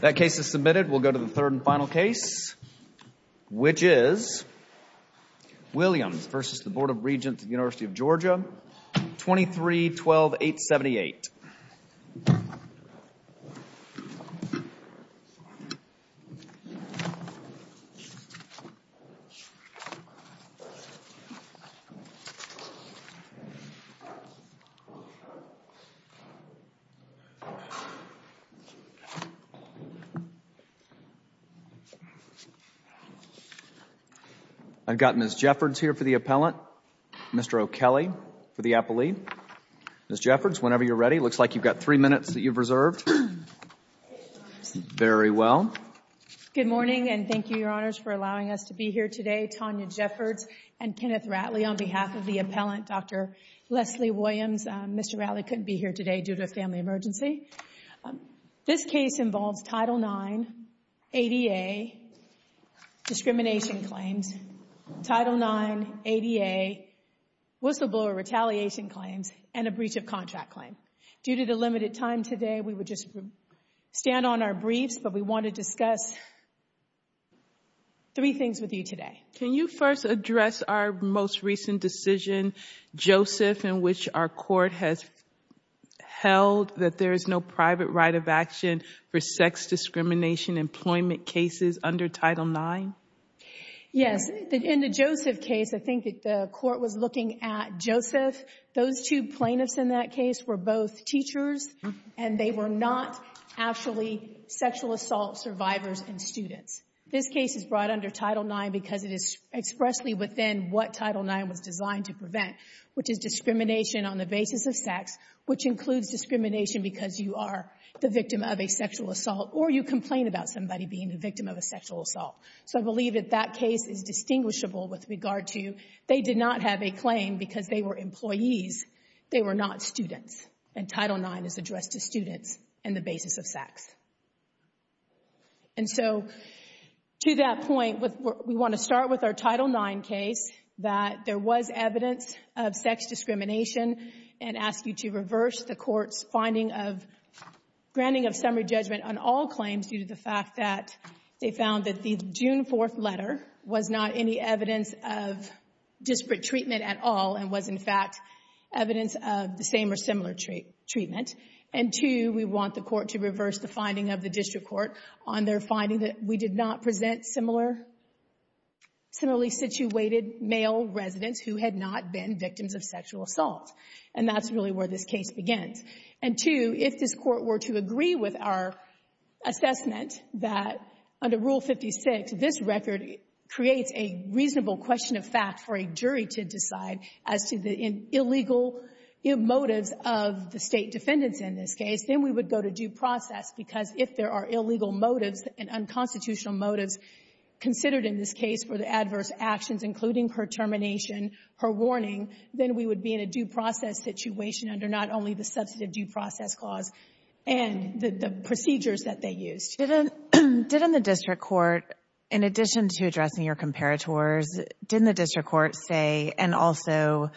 That case is submitted. We'll go to the third and final case, which is Williams v. Board of Regents of the University of Georgia, 23-12-878. I've got Ms. Jeffords here for the appellant, Mr. O'Kelly for the appellee. Ms. Jeffords, whenever you're ready. It looks like you've got three minutes that you've reserved. Very well. Good morning and thank you, Your Honors, for allowing us to be here today. Tanya Jeffords and Kenneth Ratley on behalf of the appellant, Dr. Leslie Williams. Mr. Ratley couldn't be here today due to a family emergency. This case involves Title IX, ADA, discrimination claims, Title IX, ADA, whistleblower retaliation claims, and a breach of contract claim. Due to the limited time today, we would just stand on our briefs, but we want to discuss three things with you today. Can you first address our most recent decision, Joseph, in which our court has held that there is no private right of action for sex discrimination employment cases under Title IX? Yes. In the Joseph case, I think the court was looking at Joseph. Those two plaintiffs in that case were both teachers and they were not actually sexual assault survivors and students. This case is brought under Title IX because it is expressly within what Title IX was designed to prevent, which is discrimination on the basis of sex, which includes discrimination because you are the victim of a sexual assault or you complain about somebody being the victim of a sexual assault. I believe that that case is distinguishable with regard to they did not have a claim because they were employees. They were not students, and Title IX is addressed to students and the basis of sex. To that point, we want to start with our Title IX case that there was evidence of sex discrimination and ask you to reverse the court's finding of granting of summary judgment on all claims due to the fact that they found that the June 4th letter was not any evidence of disparate treatment at all and was, in fact, evidence of the same or similar treatment. And two, we want the court to reverse the finding of the district court on their finding that we did not present similarly situated male residents who had not been victims of sexual assault. And that's really where this case begins. And two, if this Court were to agree with our assessment that under Rule 56, this record creates a reasonable question of fact for a jury to decide as to the illegal motives of the State defendants in this case, then we would go to due process. under not only the substantive due process clause and the procedures that they used. Didn't the district court, in addition to addressing your comparators, didn't the district court say, and also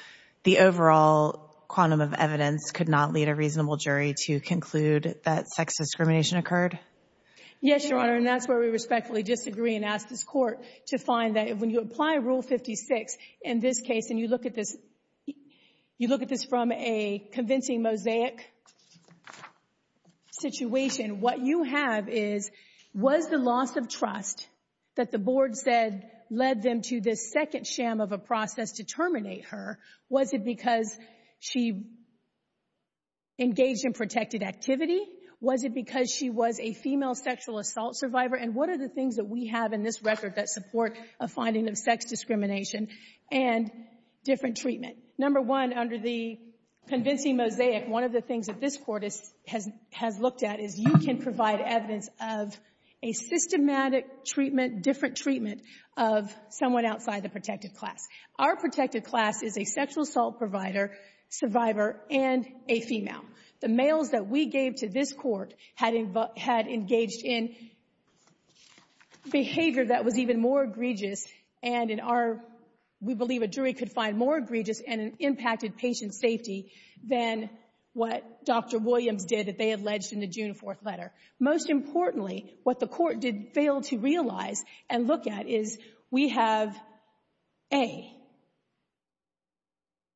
the overall quantum of evidence, could not lead a reasonable jury to conclude that sex discrimination occurred? Yes, Your Honor, and that's where we respectfully disagree and ask this court to find that when you apply Rule 56 in this case, and you look at this from a convincing mosaic situation, what you have is, was the loss of trust that the board said led them to this second sham of a process to terminate her, was it because she engaged in protected activity? Was it because she was a female sexual assault survivor? And what are the things that we have in this record that support a finding of sex discrimination and different treatment? Number one, under the convincing mosaic, one of the things that this Court has looked at is you can provide evidence of a systematic treatment, different treatment, of someone outside the protected class. Our protected class is a sexual assault provider, survivor, and a female. The males that we gave to this Court had engaged in behavior that was even more egregious and in our, we believe a jury could find more egregious and impacted patient safety than what Dr. Williams did that they alleged in the June 4th letter. Most importantly, what the Court did fail to realize and look at is we have A,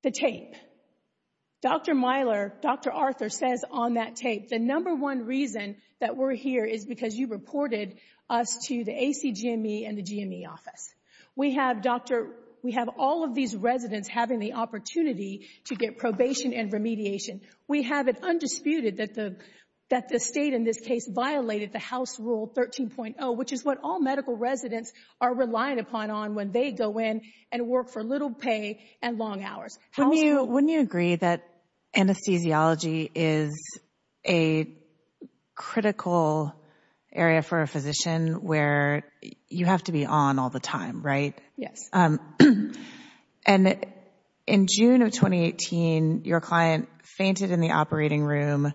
the tape. Dr. Myler, Dr. Arthur says on that tape, the number one reason that we're here is because you reported us to the ACGME and the GME office. We have all of these residents having the opportunity to get probation and remediation. We have it undisputed that the state in this case violated the House Rule 13.0, which is what all medical residents are reliant upon on when they go in and work for little pay and long hours. Wouldn't you agree that anesthesiology is a critical area for a physician where you have to be on all the time, right? Yes. And in June of 2018, your client fainted in the operating room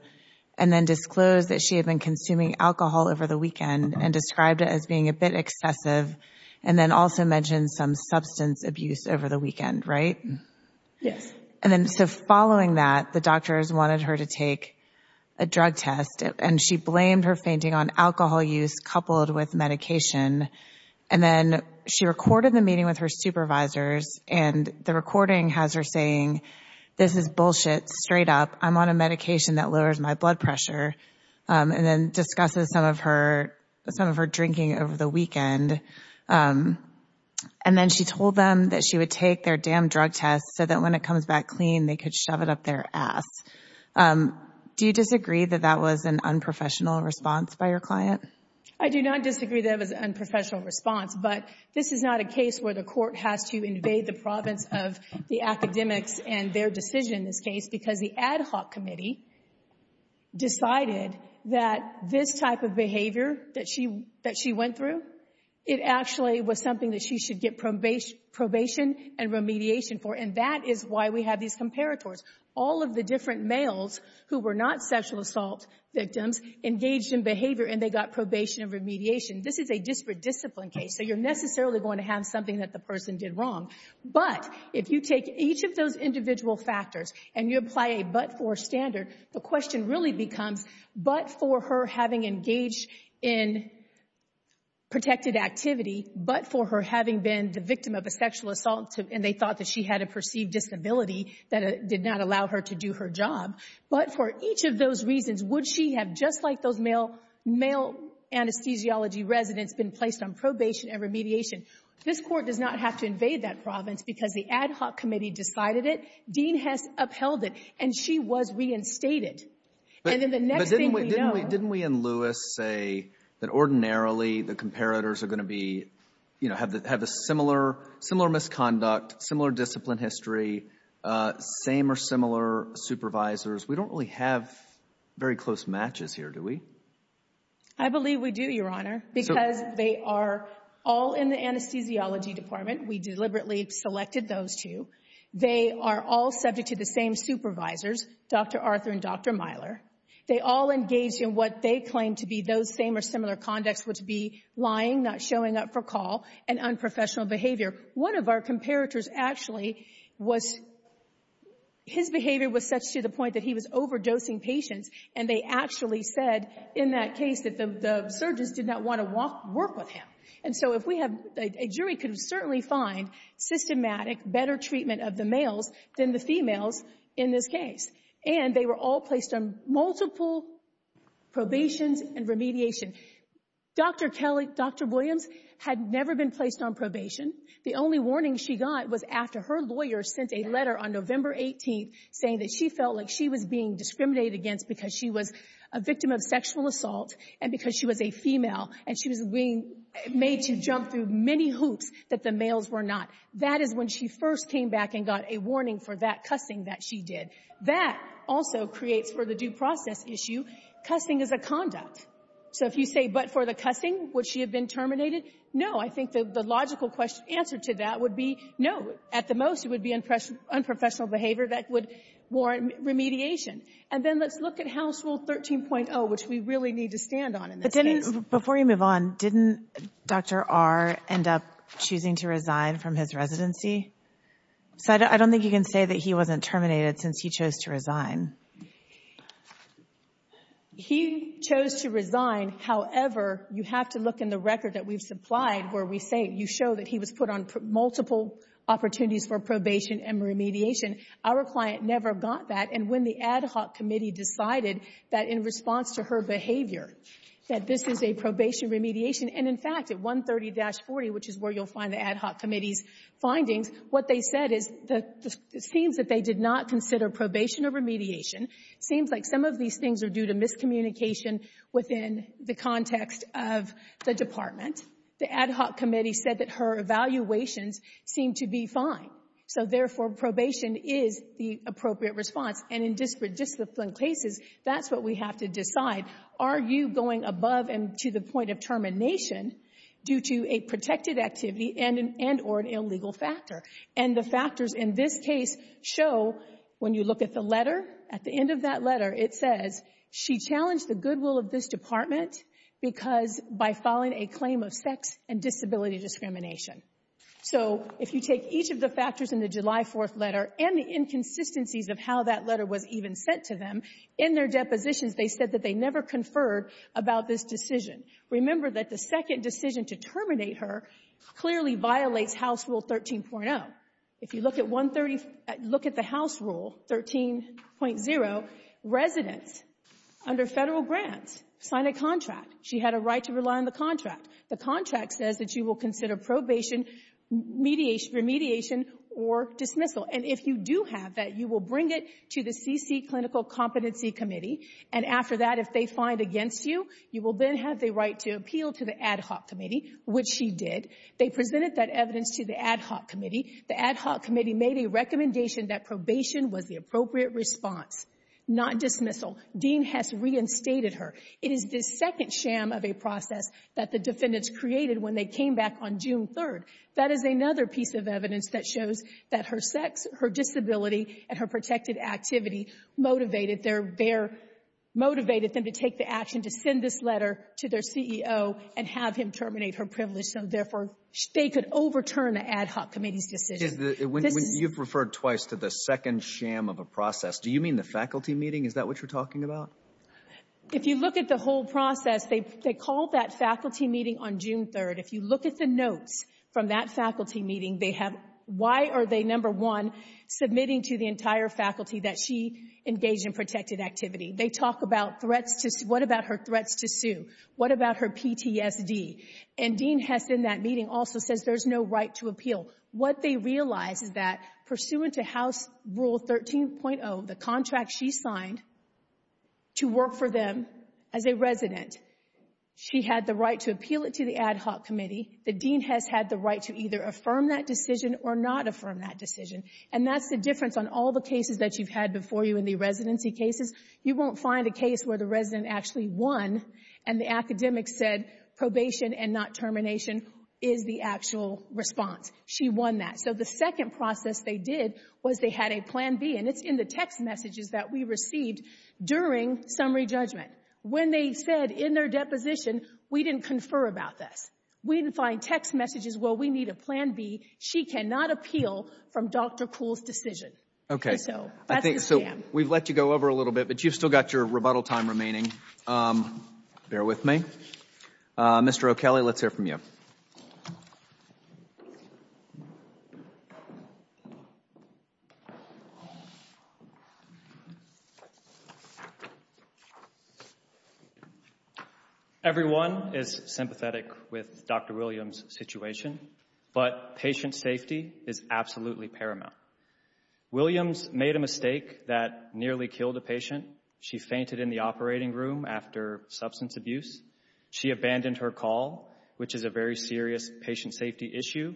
and then disclosed that she had been consuming alcohol over the weekend and described it as being a bit excessive and then also mentioned some substance abuse over the weekend, right? Yes. And then so following that, the doctors wanted her to take a drug test and she blamed her fainting on alcohol use coupled with medication. And then she recorded the meeting with her supervisors and the recording has her saying, this is bullshit, straight up. I'm on a medication that lowers my blood pressure. And then discusses some of her drinking over the weekend. And then she told them that she would take their damn drug test so that when it comes back clean, they could shove it up their ass. Do you disagree that that was an unprofessional response by your client? I do not disagree that it was an unprofessional response, but this is not a case where the court has to invade the province of the academics and their decision in this case because the ad hoc committee decided that this type of behavior that she went through, it actually was something that she should get probation and remediation for. And that is why we have these comparators. All of the different males who were not sexual assault victims engaged in behavior and they got probation and remediation. This is a disparate discipline case, so you're necessarily going to have something that the person did wrong. But if you take each of those individual factors and you apply a but-for standard, the question really becomes, but for her having engaged in protected activity, but for her having been the victim of a sexual assault and they thought that she had a perceived disability that did not allow her to do her job, but for each of those reasons, would she have just like those male anesthesiology residents been placed on probation and remediation? This court does not have to invade that province because the ad hoc committee decided it, Dean Hess upheld it, and she was reinstated. But didn't we in Lewis say that ordinarily the comparators are going to be, you know, have a similar misconduct, similar discipline history, same or similar supervisors? We don't really have very close matches here, do we? I believe we do, Your Honor, because they are all in the anesthesiology department. We deliberately selected those two. They are all subject to the same supervisors, Dr. Arthur and Dr. Myler. They all engaged in what they claimed to be those same or similar conducts, which would be lying, not showing up for call, and unprofessional behavior. One of our comparators actually was, his behavior was such to the point that he was overdosing patients, and they actually said in that case that the surgeons did not want to work with him. And so if we have, a jury could certainly find systematic better treatment of the males than the females in this case. And they were all placed on multiple probations and remediation. Dr. Kelly, Dr. Williams had never been placed on probation. The only warning she got was after her lawyer sent a letter on November 18th saying that she felt like she was being discriminated against because she was a victim of sexual assault, and because she was a female, and she was being made to jump through many hoops that the males were not. That is when she first came back and got a warning for that cussing that she did. That also creates for the due process issue, cussing is a conduct. So if you say, but for the cussing, would she have been terminated? No. I think the logical answer to that would be no. At the most, it would be unprofessional behavior that would warrant remediation. And then let's look at House Rule 13.0, which we really need to stand on in this case. But didn't, before you move on, didn't Dr. R end up choosing to resign from his residency? So I don't think you can say that he wasn't terminated since he chose to resign. He chose to resign. However, you have to look in the record that we've supplied where we say you show that he was put on multiple opportunities for probation and remediation. Our client never got that. And when the ad hoc committee decided that in response to her behavior that this is a probation remediation, and, in fact, at 130-40, which is where you'll find the ad hoc committee's findings, what they said is it seems that they did not consider probation or remediation. It seems like some of these things are due to miscommunication within the context of the department. The ad hoc committee said that her evaluations seemed to be fine. So, therefore, probation is the appropriate response. And in disparate discipline cases, that's what we have to decide. Are you going above and to the point of termination due to a protected activity and or an illegal factor? And the factors in this case show, when you look at the letter, at the end of that letter, it says, she challenged the goodwill of this department because by filing a claim of sex and disability discrimination. So if you take each of the factors in the July 4th letter and the inconsistencies of how that letter was even sent to them, in their depositions, they said that they never conferred about this decision. Remember that the second decision to terminate her clearly violates House Rule 13.0. If you look at 130 — look at the House Rule 13.0, residents under Federal grants sign a contract. She had a right to rely on the contract. The contract says that she will consider probation, remediation, or dismissal. And if you do have that, you will bring it to the CC Clinical Competency Committee. And after that, if they find against you, you will then have the right to appeal to the ad hoc committee, which she did. They presented that evidence to the ad hoc committee. The ad hoc committee made a recommendation that probation was the appropriate response, not dismissal. Dean has reinstated her. It is the second sham of a process that the defendants created when they came back on June 3rd. That is another piece of evidence that shows that her sex, her disability, and her protected activity motivated their — motivated them to take the action to send this letter to their CEO and have him terminate her privilege, so therefore they could overturn the ad hoc committee's decision. You've referred twice to the second sham of a process. Do you mean the faculty meeting? Is that what you're talking about? If you look at the whole process, they called that faculty meeting on June 3rd. If you look at the notes from that faculty meeting, they have — why are they, number one, submitting to the entire faculty that she engaged in protected activity? They talk about threats to — what about her threats to sue? What about her PTSD? And Dean Hess, in that meeting, also says there's no right to appeal. What they realize is that, pursuant to House Rule 13.0, the contract she signed to work for them as a resident, she had the right to appeal it to the ad hoc committee. The dean has had the right to either affirm that decision or not affirm that decision. And that's the difference on all the cases that you've had before you in the residency cases. You won't find a case where the resident actually won and the academic said probation and not termination is the actual response. She won that. So the second process they did was they had a plan B, and it's in the text messages that we received during summary judgment. When they said in their deposition, we didn't confer about this. We didn't find text messages, well, we need a plan B. She cannot appeal from Dr. Kuhl's decision. So that's the scam. So we've let you go over a little bit, but you've still got your rebuttal time remaining. Bear with me. Mr. O'Kelly, let's hear from you. Everyone is sympathetic with Dr. Williams' situation, but patient safety is absolutely paramount. Williams made a mistake that nearly killed a patient. She fainted in the operating room after substance abuse. She abandoned her call, which is a very serious patient safety issue.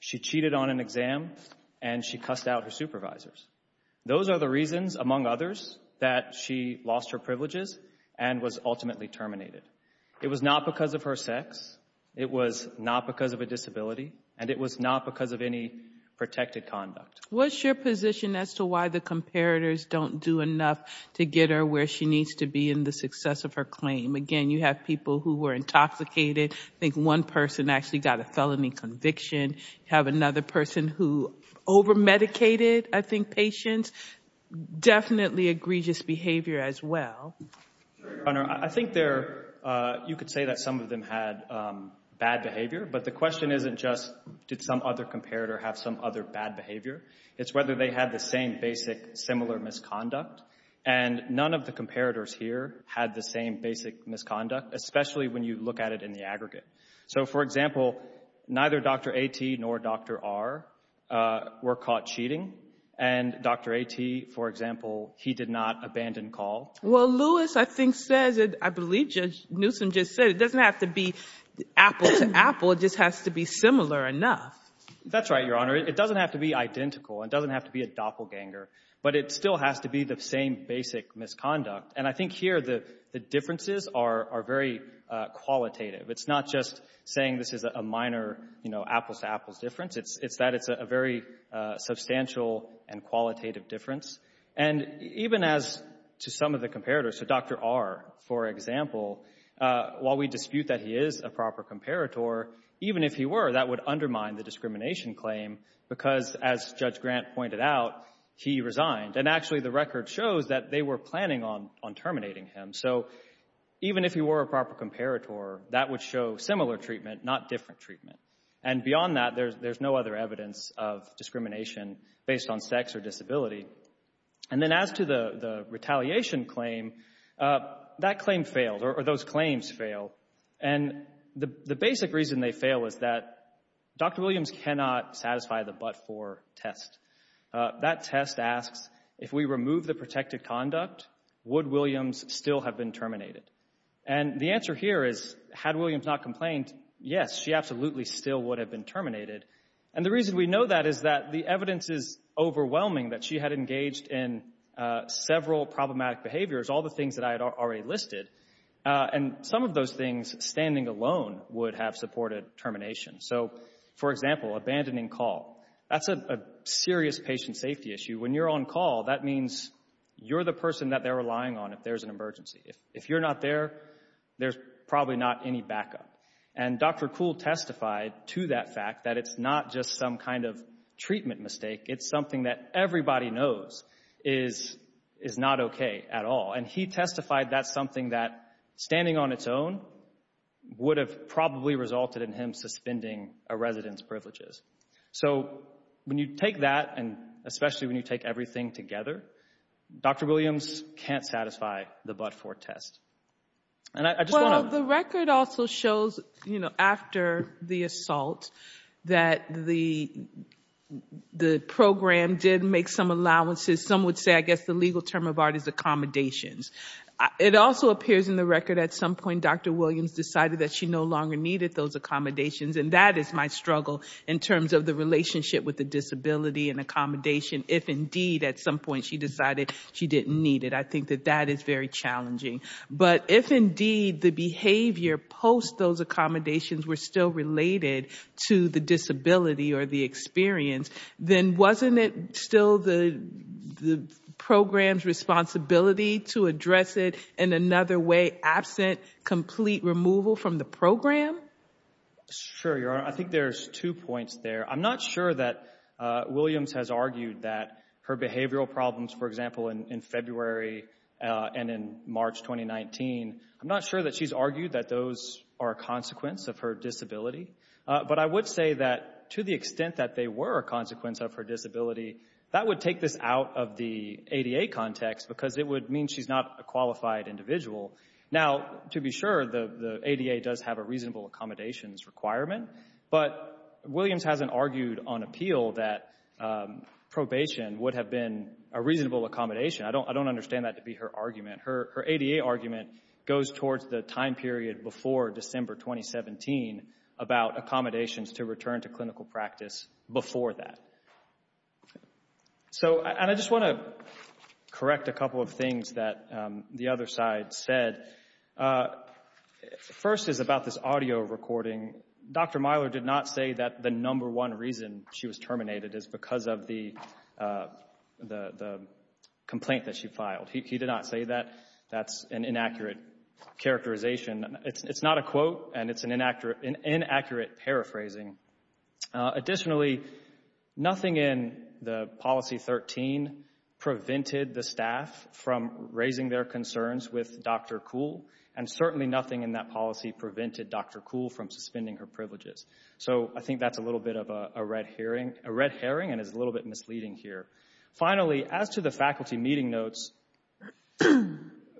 She cheated on an exam, and she cussed out her supervisors. Those are the reasons, among others, that she lost her privileges and was ultimately terminated. It was not because of her sex. It was not because of a disability, and it was not because of any protected conduct. What's your position as to why the comparators don't do enough to get her where she needs to be in the success of her claim? Again, you have people who were intoxicated. I think one person actually got a felony conviction. You have another person who over-medicated, I think, patients. Definitely egregious behavior as well. I think you could say that some of them had bad behavior, but the question isn't just did some other comparator have some other bad behavior. It's whether they had the same basic similar misconduct, and none of the comparators here had the same basic misconduct, especially when you look at it in the aggregate. So, for example, neither Dr. A.T. nor Dr. R. were caught cheating, and Dr. A.T., for example, he did not abandon call. Well, Lewis, I think, says, I believe Judge Newsom just said, it doesn't have to be apple to apple. It just has to be similar enough. That's right, Your Honor. It doesn't have to be identical. It doesn't have to be a doppelganger, but it still has to be the same basic misconduct, and I think here the differences are very qualitative. It's not just saying this is a minor apples to apples difference. It's that it's a very substantial and qualitative difference, and even as to some of the comparators, so Dr. R., for example, while we dispute that he is a proper comparator, even if he were, that would undermine the discrimination claim because, as Judge Grant pointed out, he resigned, and actually the record shows that they were planning on terminating him. So even if he were a proper comparator, that would show similar treatment, not different treatment, and beyond that there's no other evidence of discrimination based on sex or disability. And then as to the retaliation claim, that claim failed, or those claims failed, and the basic reason they failed was that Dr. Williams cannot satisfy the but-for test. That test asks, if we remove the protected conduct, would Williams still have been terminated? And the answer here is, had Williams not complained, yes, she absolutely still would have been terminated, and the reason we know that is that the evidence is overwhelming that she had engaged in several problematic behaviors, all the things that I had already listed, and some of those things standing alone would have supported termination. So, for example, abandoning call. That's a serious patient safety issue. When you're on call, that means you're the person that they're relying on if there's an emergency. If you're not there, there's probably not any backup, and Dr. Kuhl testified to that fact that it's not just some kind of treatment mistake, it's something that everybody knows is not okay at all, and he testified that's something that, standing on its own, would have probably resulted in him suspending a resident's privileges. So, when you take that, and especially when you take everything together, Dr. Williams can't satisfy the but-for test. Well, the record also shows, you know, after the assault, that the program did make some allowances. Some would say, I guess, the legal term of art is accommodations. It also appears in the record at some point Dr. Williams decided that she no longer needed those accommodations, and that is my struggle in terms of the relationship with the disability and accommodation. If, indeed, at some point she decided she didn't need it, I think that that is very challenging. But if, indeed, the behavior post those accommodations were still related to the disability or the experience, then wasn't it still the program's responsibility to address it in another way, absent complete removal from the program? Sure, Your Honor. I think there's two points there. I'm not sure that Williams has argued that her behavioral problems, for example, in February and in March 2019, I'm not sure that she's argued that those are a consequence of her disability. But I would say that to the extent that they were a consequence of her disability, that would take this out of the ADA context because it would mean she's not a qualified individual. Now, to be sure, the ADA does have a reasonable accommodations requirement, but Williams hasn't argued on appeal that probation would have been a reasonable accommodation. I don't understand that to be her argument. Her ADA argument goes towards the time period before December 2017 about accommodations to return to clinical practice before that. So, and I just want to correct a couple of things that the other side said. First is about this audio recording. Dr. Myler did not say that the number one reason she was terminated is because of the complaint that she filed. He did not say that that's an inaccurate characterization. It's not a quote, and it's an inaccurate paraphrasing. Additionally, nothing in the policy 13 prevented the staff from raising their concerns with Dr. Kuhl, and certainly nothing in that policy prevented Dr. Kuhl from suspending her privileges. So I think that's a little bit of a red herring and is a little bit misleading here. Finally, as to the faculty meeting notes,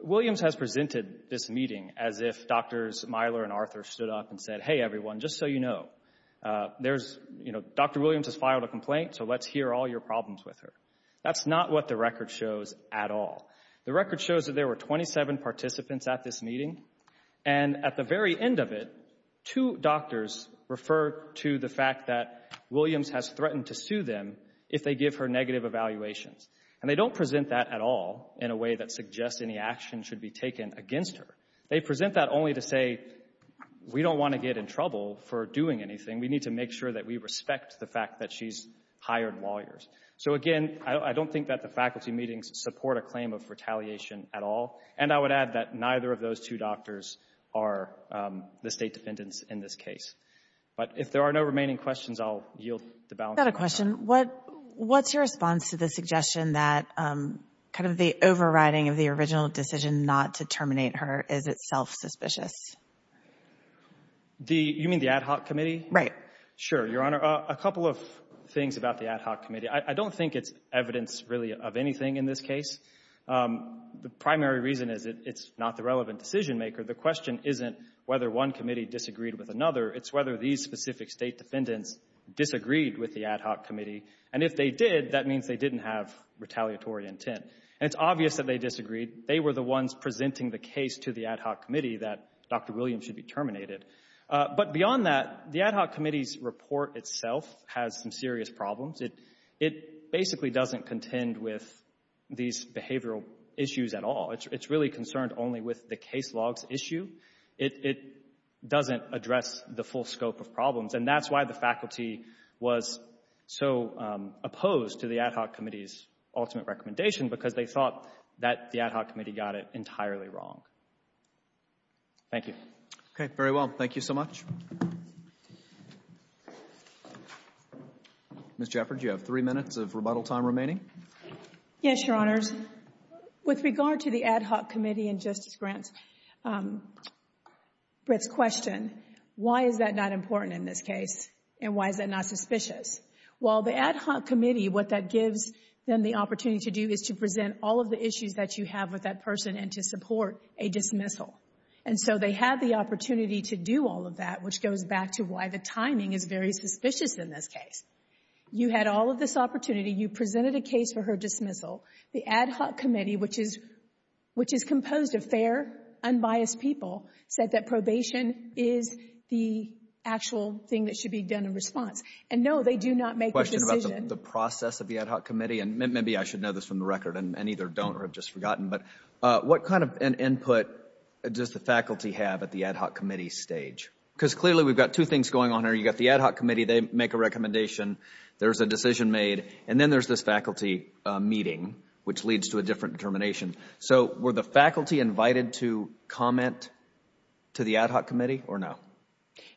Williams has presented this meeting as if Drs. Myler and Arthur stood up and said, hey, everyone, just so you know, Dr. Williams has filed a complaint, so let's hear all your problems with her. That's not what the record shows at all. The record shows that there were 27 participants at this meeting, and at the very end of it, two doctors refer to the fact that Williams has threatened to sue them if they give her negative evaluations. And they don't present that at all in a way that suggests any action should be taken against her. They present that only to say, we don't want to get in trouble for doing anything. We need to make sure that we respect the fact that she's hired lawyers. So, again, I don't think that the faculty meetings support a claim of retaliation at all, and I would add that neither of those two doctors are the State defendants in this case. But if there are no remaining questions, I'll yield the balance. I've got a question. What's your response to the suggestion that kind of the overriding of the original decision not to terminate her is itself suspicious? You mean the ad hoc committee? Right. Sure, Your Honor. A couple of things about the ad hoc committee. I don't think it's evidence really of anything in this case. The primary reason is it's not the relevant decision maker. The question isn't whether one committee disagreed with another. It's whether these specific State defendants disagreed with the ad hoc committee. And if they did, that means they didn't have retaliatory intent. And it's obvious that they disagreed. They were the ones presenting the case to the ad hoc committee that Dr. Williams should be terminated. But beyond that, the ad hoc committee's report itself has some serious problems. It basically doesn't contend with these behavioral issues at all. It's really concerned only with the case logs issue. It doesn't address the full scope of problems. And that's why the faculty was so opposed to the ad hoc committee's ultimate recommendation, because they thought that the ad hoc committee got it entirely wrong. Thank you. Okay. Very well. Thank you so much. Ms. Jeffords, you have three minutes of rebuttal time remaining. Yes, Your Honors. With regard to the ad hoc committee and Justice Grant's question, why is that not important in this case and why is that not suspicious? Well, the ad hoc committee, what that gives them the opportunity to do is to present all of the issues that you have with that person and to support a dismissal. And so they have the opportunity to do all of that, which goes back to why the timing is very suspicious in this case. You had all of this opportunity. You presented a case for her dismissal. The ad hoc committee, which is composed of fair, unbiased people, said that probation is the actual thing that should be done in response. And, no, they do not make a decision. A question about the process of the ad hoc committee, and maybe I should know this from the record and either don't or have just forgotten, but what kind of an input does the faculty have at the ad hoc committee stage? Because clearly we've got two things going on here. You've got the ad hoc committee. They make a recommendation. There's a decision made. And then there's this faculty meeting, which leads to a different determination. So were the faculty invited to comment to the ad hoc committee or no?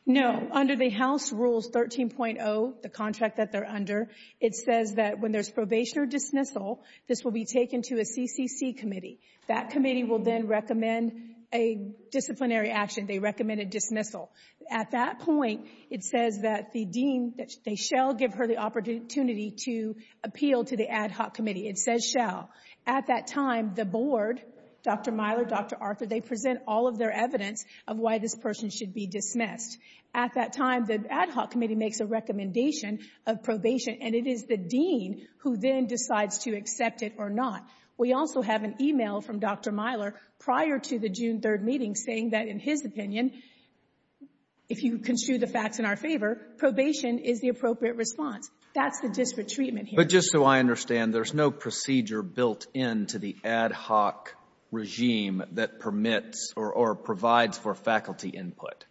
No. Under the House Rules 13.0, the contract that they're under, it says that when there's probation or dismissal, this will be taken to a CCC committee. That committee will then recommend a disciplinary action. They recommend a dismissal. At that point, it says that the dean, they shall give her the opportunity to appeal to the ad hoc committee. It says shall. At that time, the board, Dr. Myler, Dr. Arthur, they present all of their evidence of why this person should be dismissed. At that time, the ad hoc committee makes a recommendation of probation, and it is the dean who then decides to accept it or not. We also have an email from Dr. Myler prior to the June 3rd meeting saying that, in his opinion, if you construe the facts in our favor, probation is the appropriate response. That's the district treatment here. But just so I understand, there's no procedure built into the ad hoc regime that permits or provides for faculty input.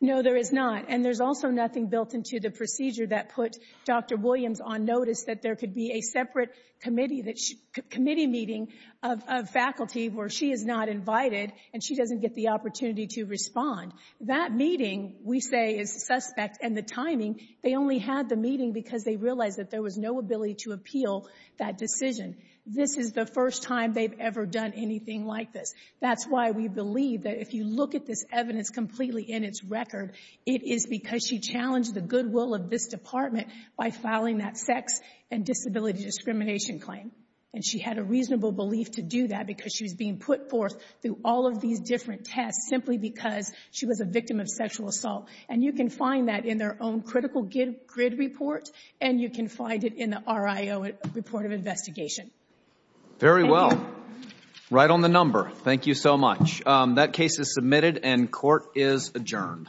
No, there is not. And there's also nothing built into the procedure that put Dr. Williams on notice that there could be a separate committee meeting of faculty where she is not invited and she doesn't get the opportunity to respond. That meeting, we say, is suspect. And the timing, they only had the meeting because they realized that there was no ability to appeal that decision. This is the first time they've ever done anything like this. That's why we believe that if you look at this evidence completely in its record, it is because she challenged the goodwill of this department by filing that sex and disability discrimination claim. And she had a reasonable belief to do that because she was being put forth through all of these different tests simply because she was a victim of sexual assault. And you can find that in their own critical grid report, and you can find it in the RIO report of investigation. Very well. Right on the number. Thank you so much. That case is submitted and court is adjourned.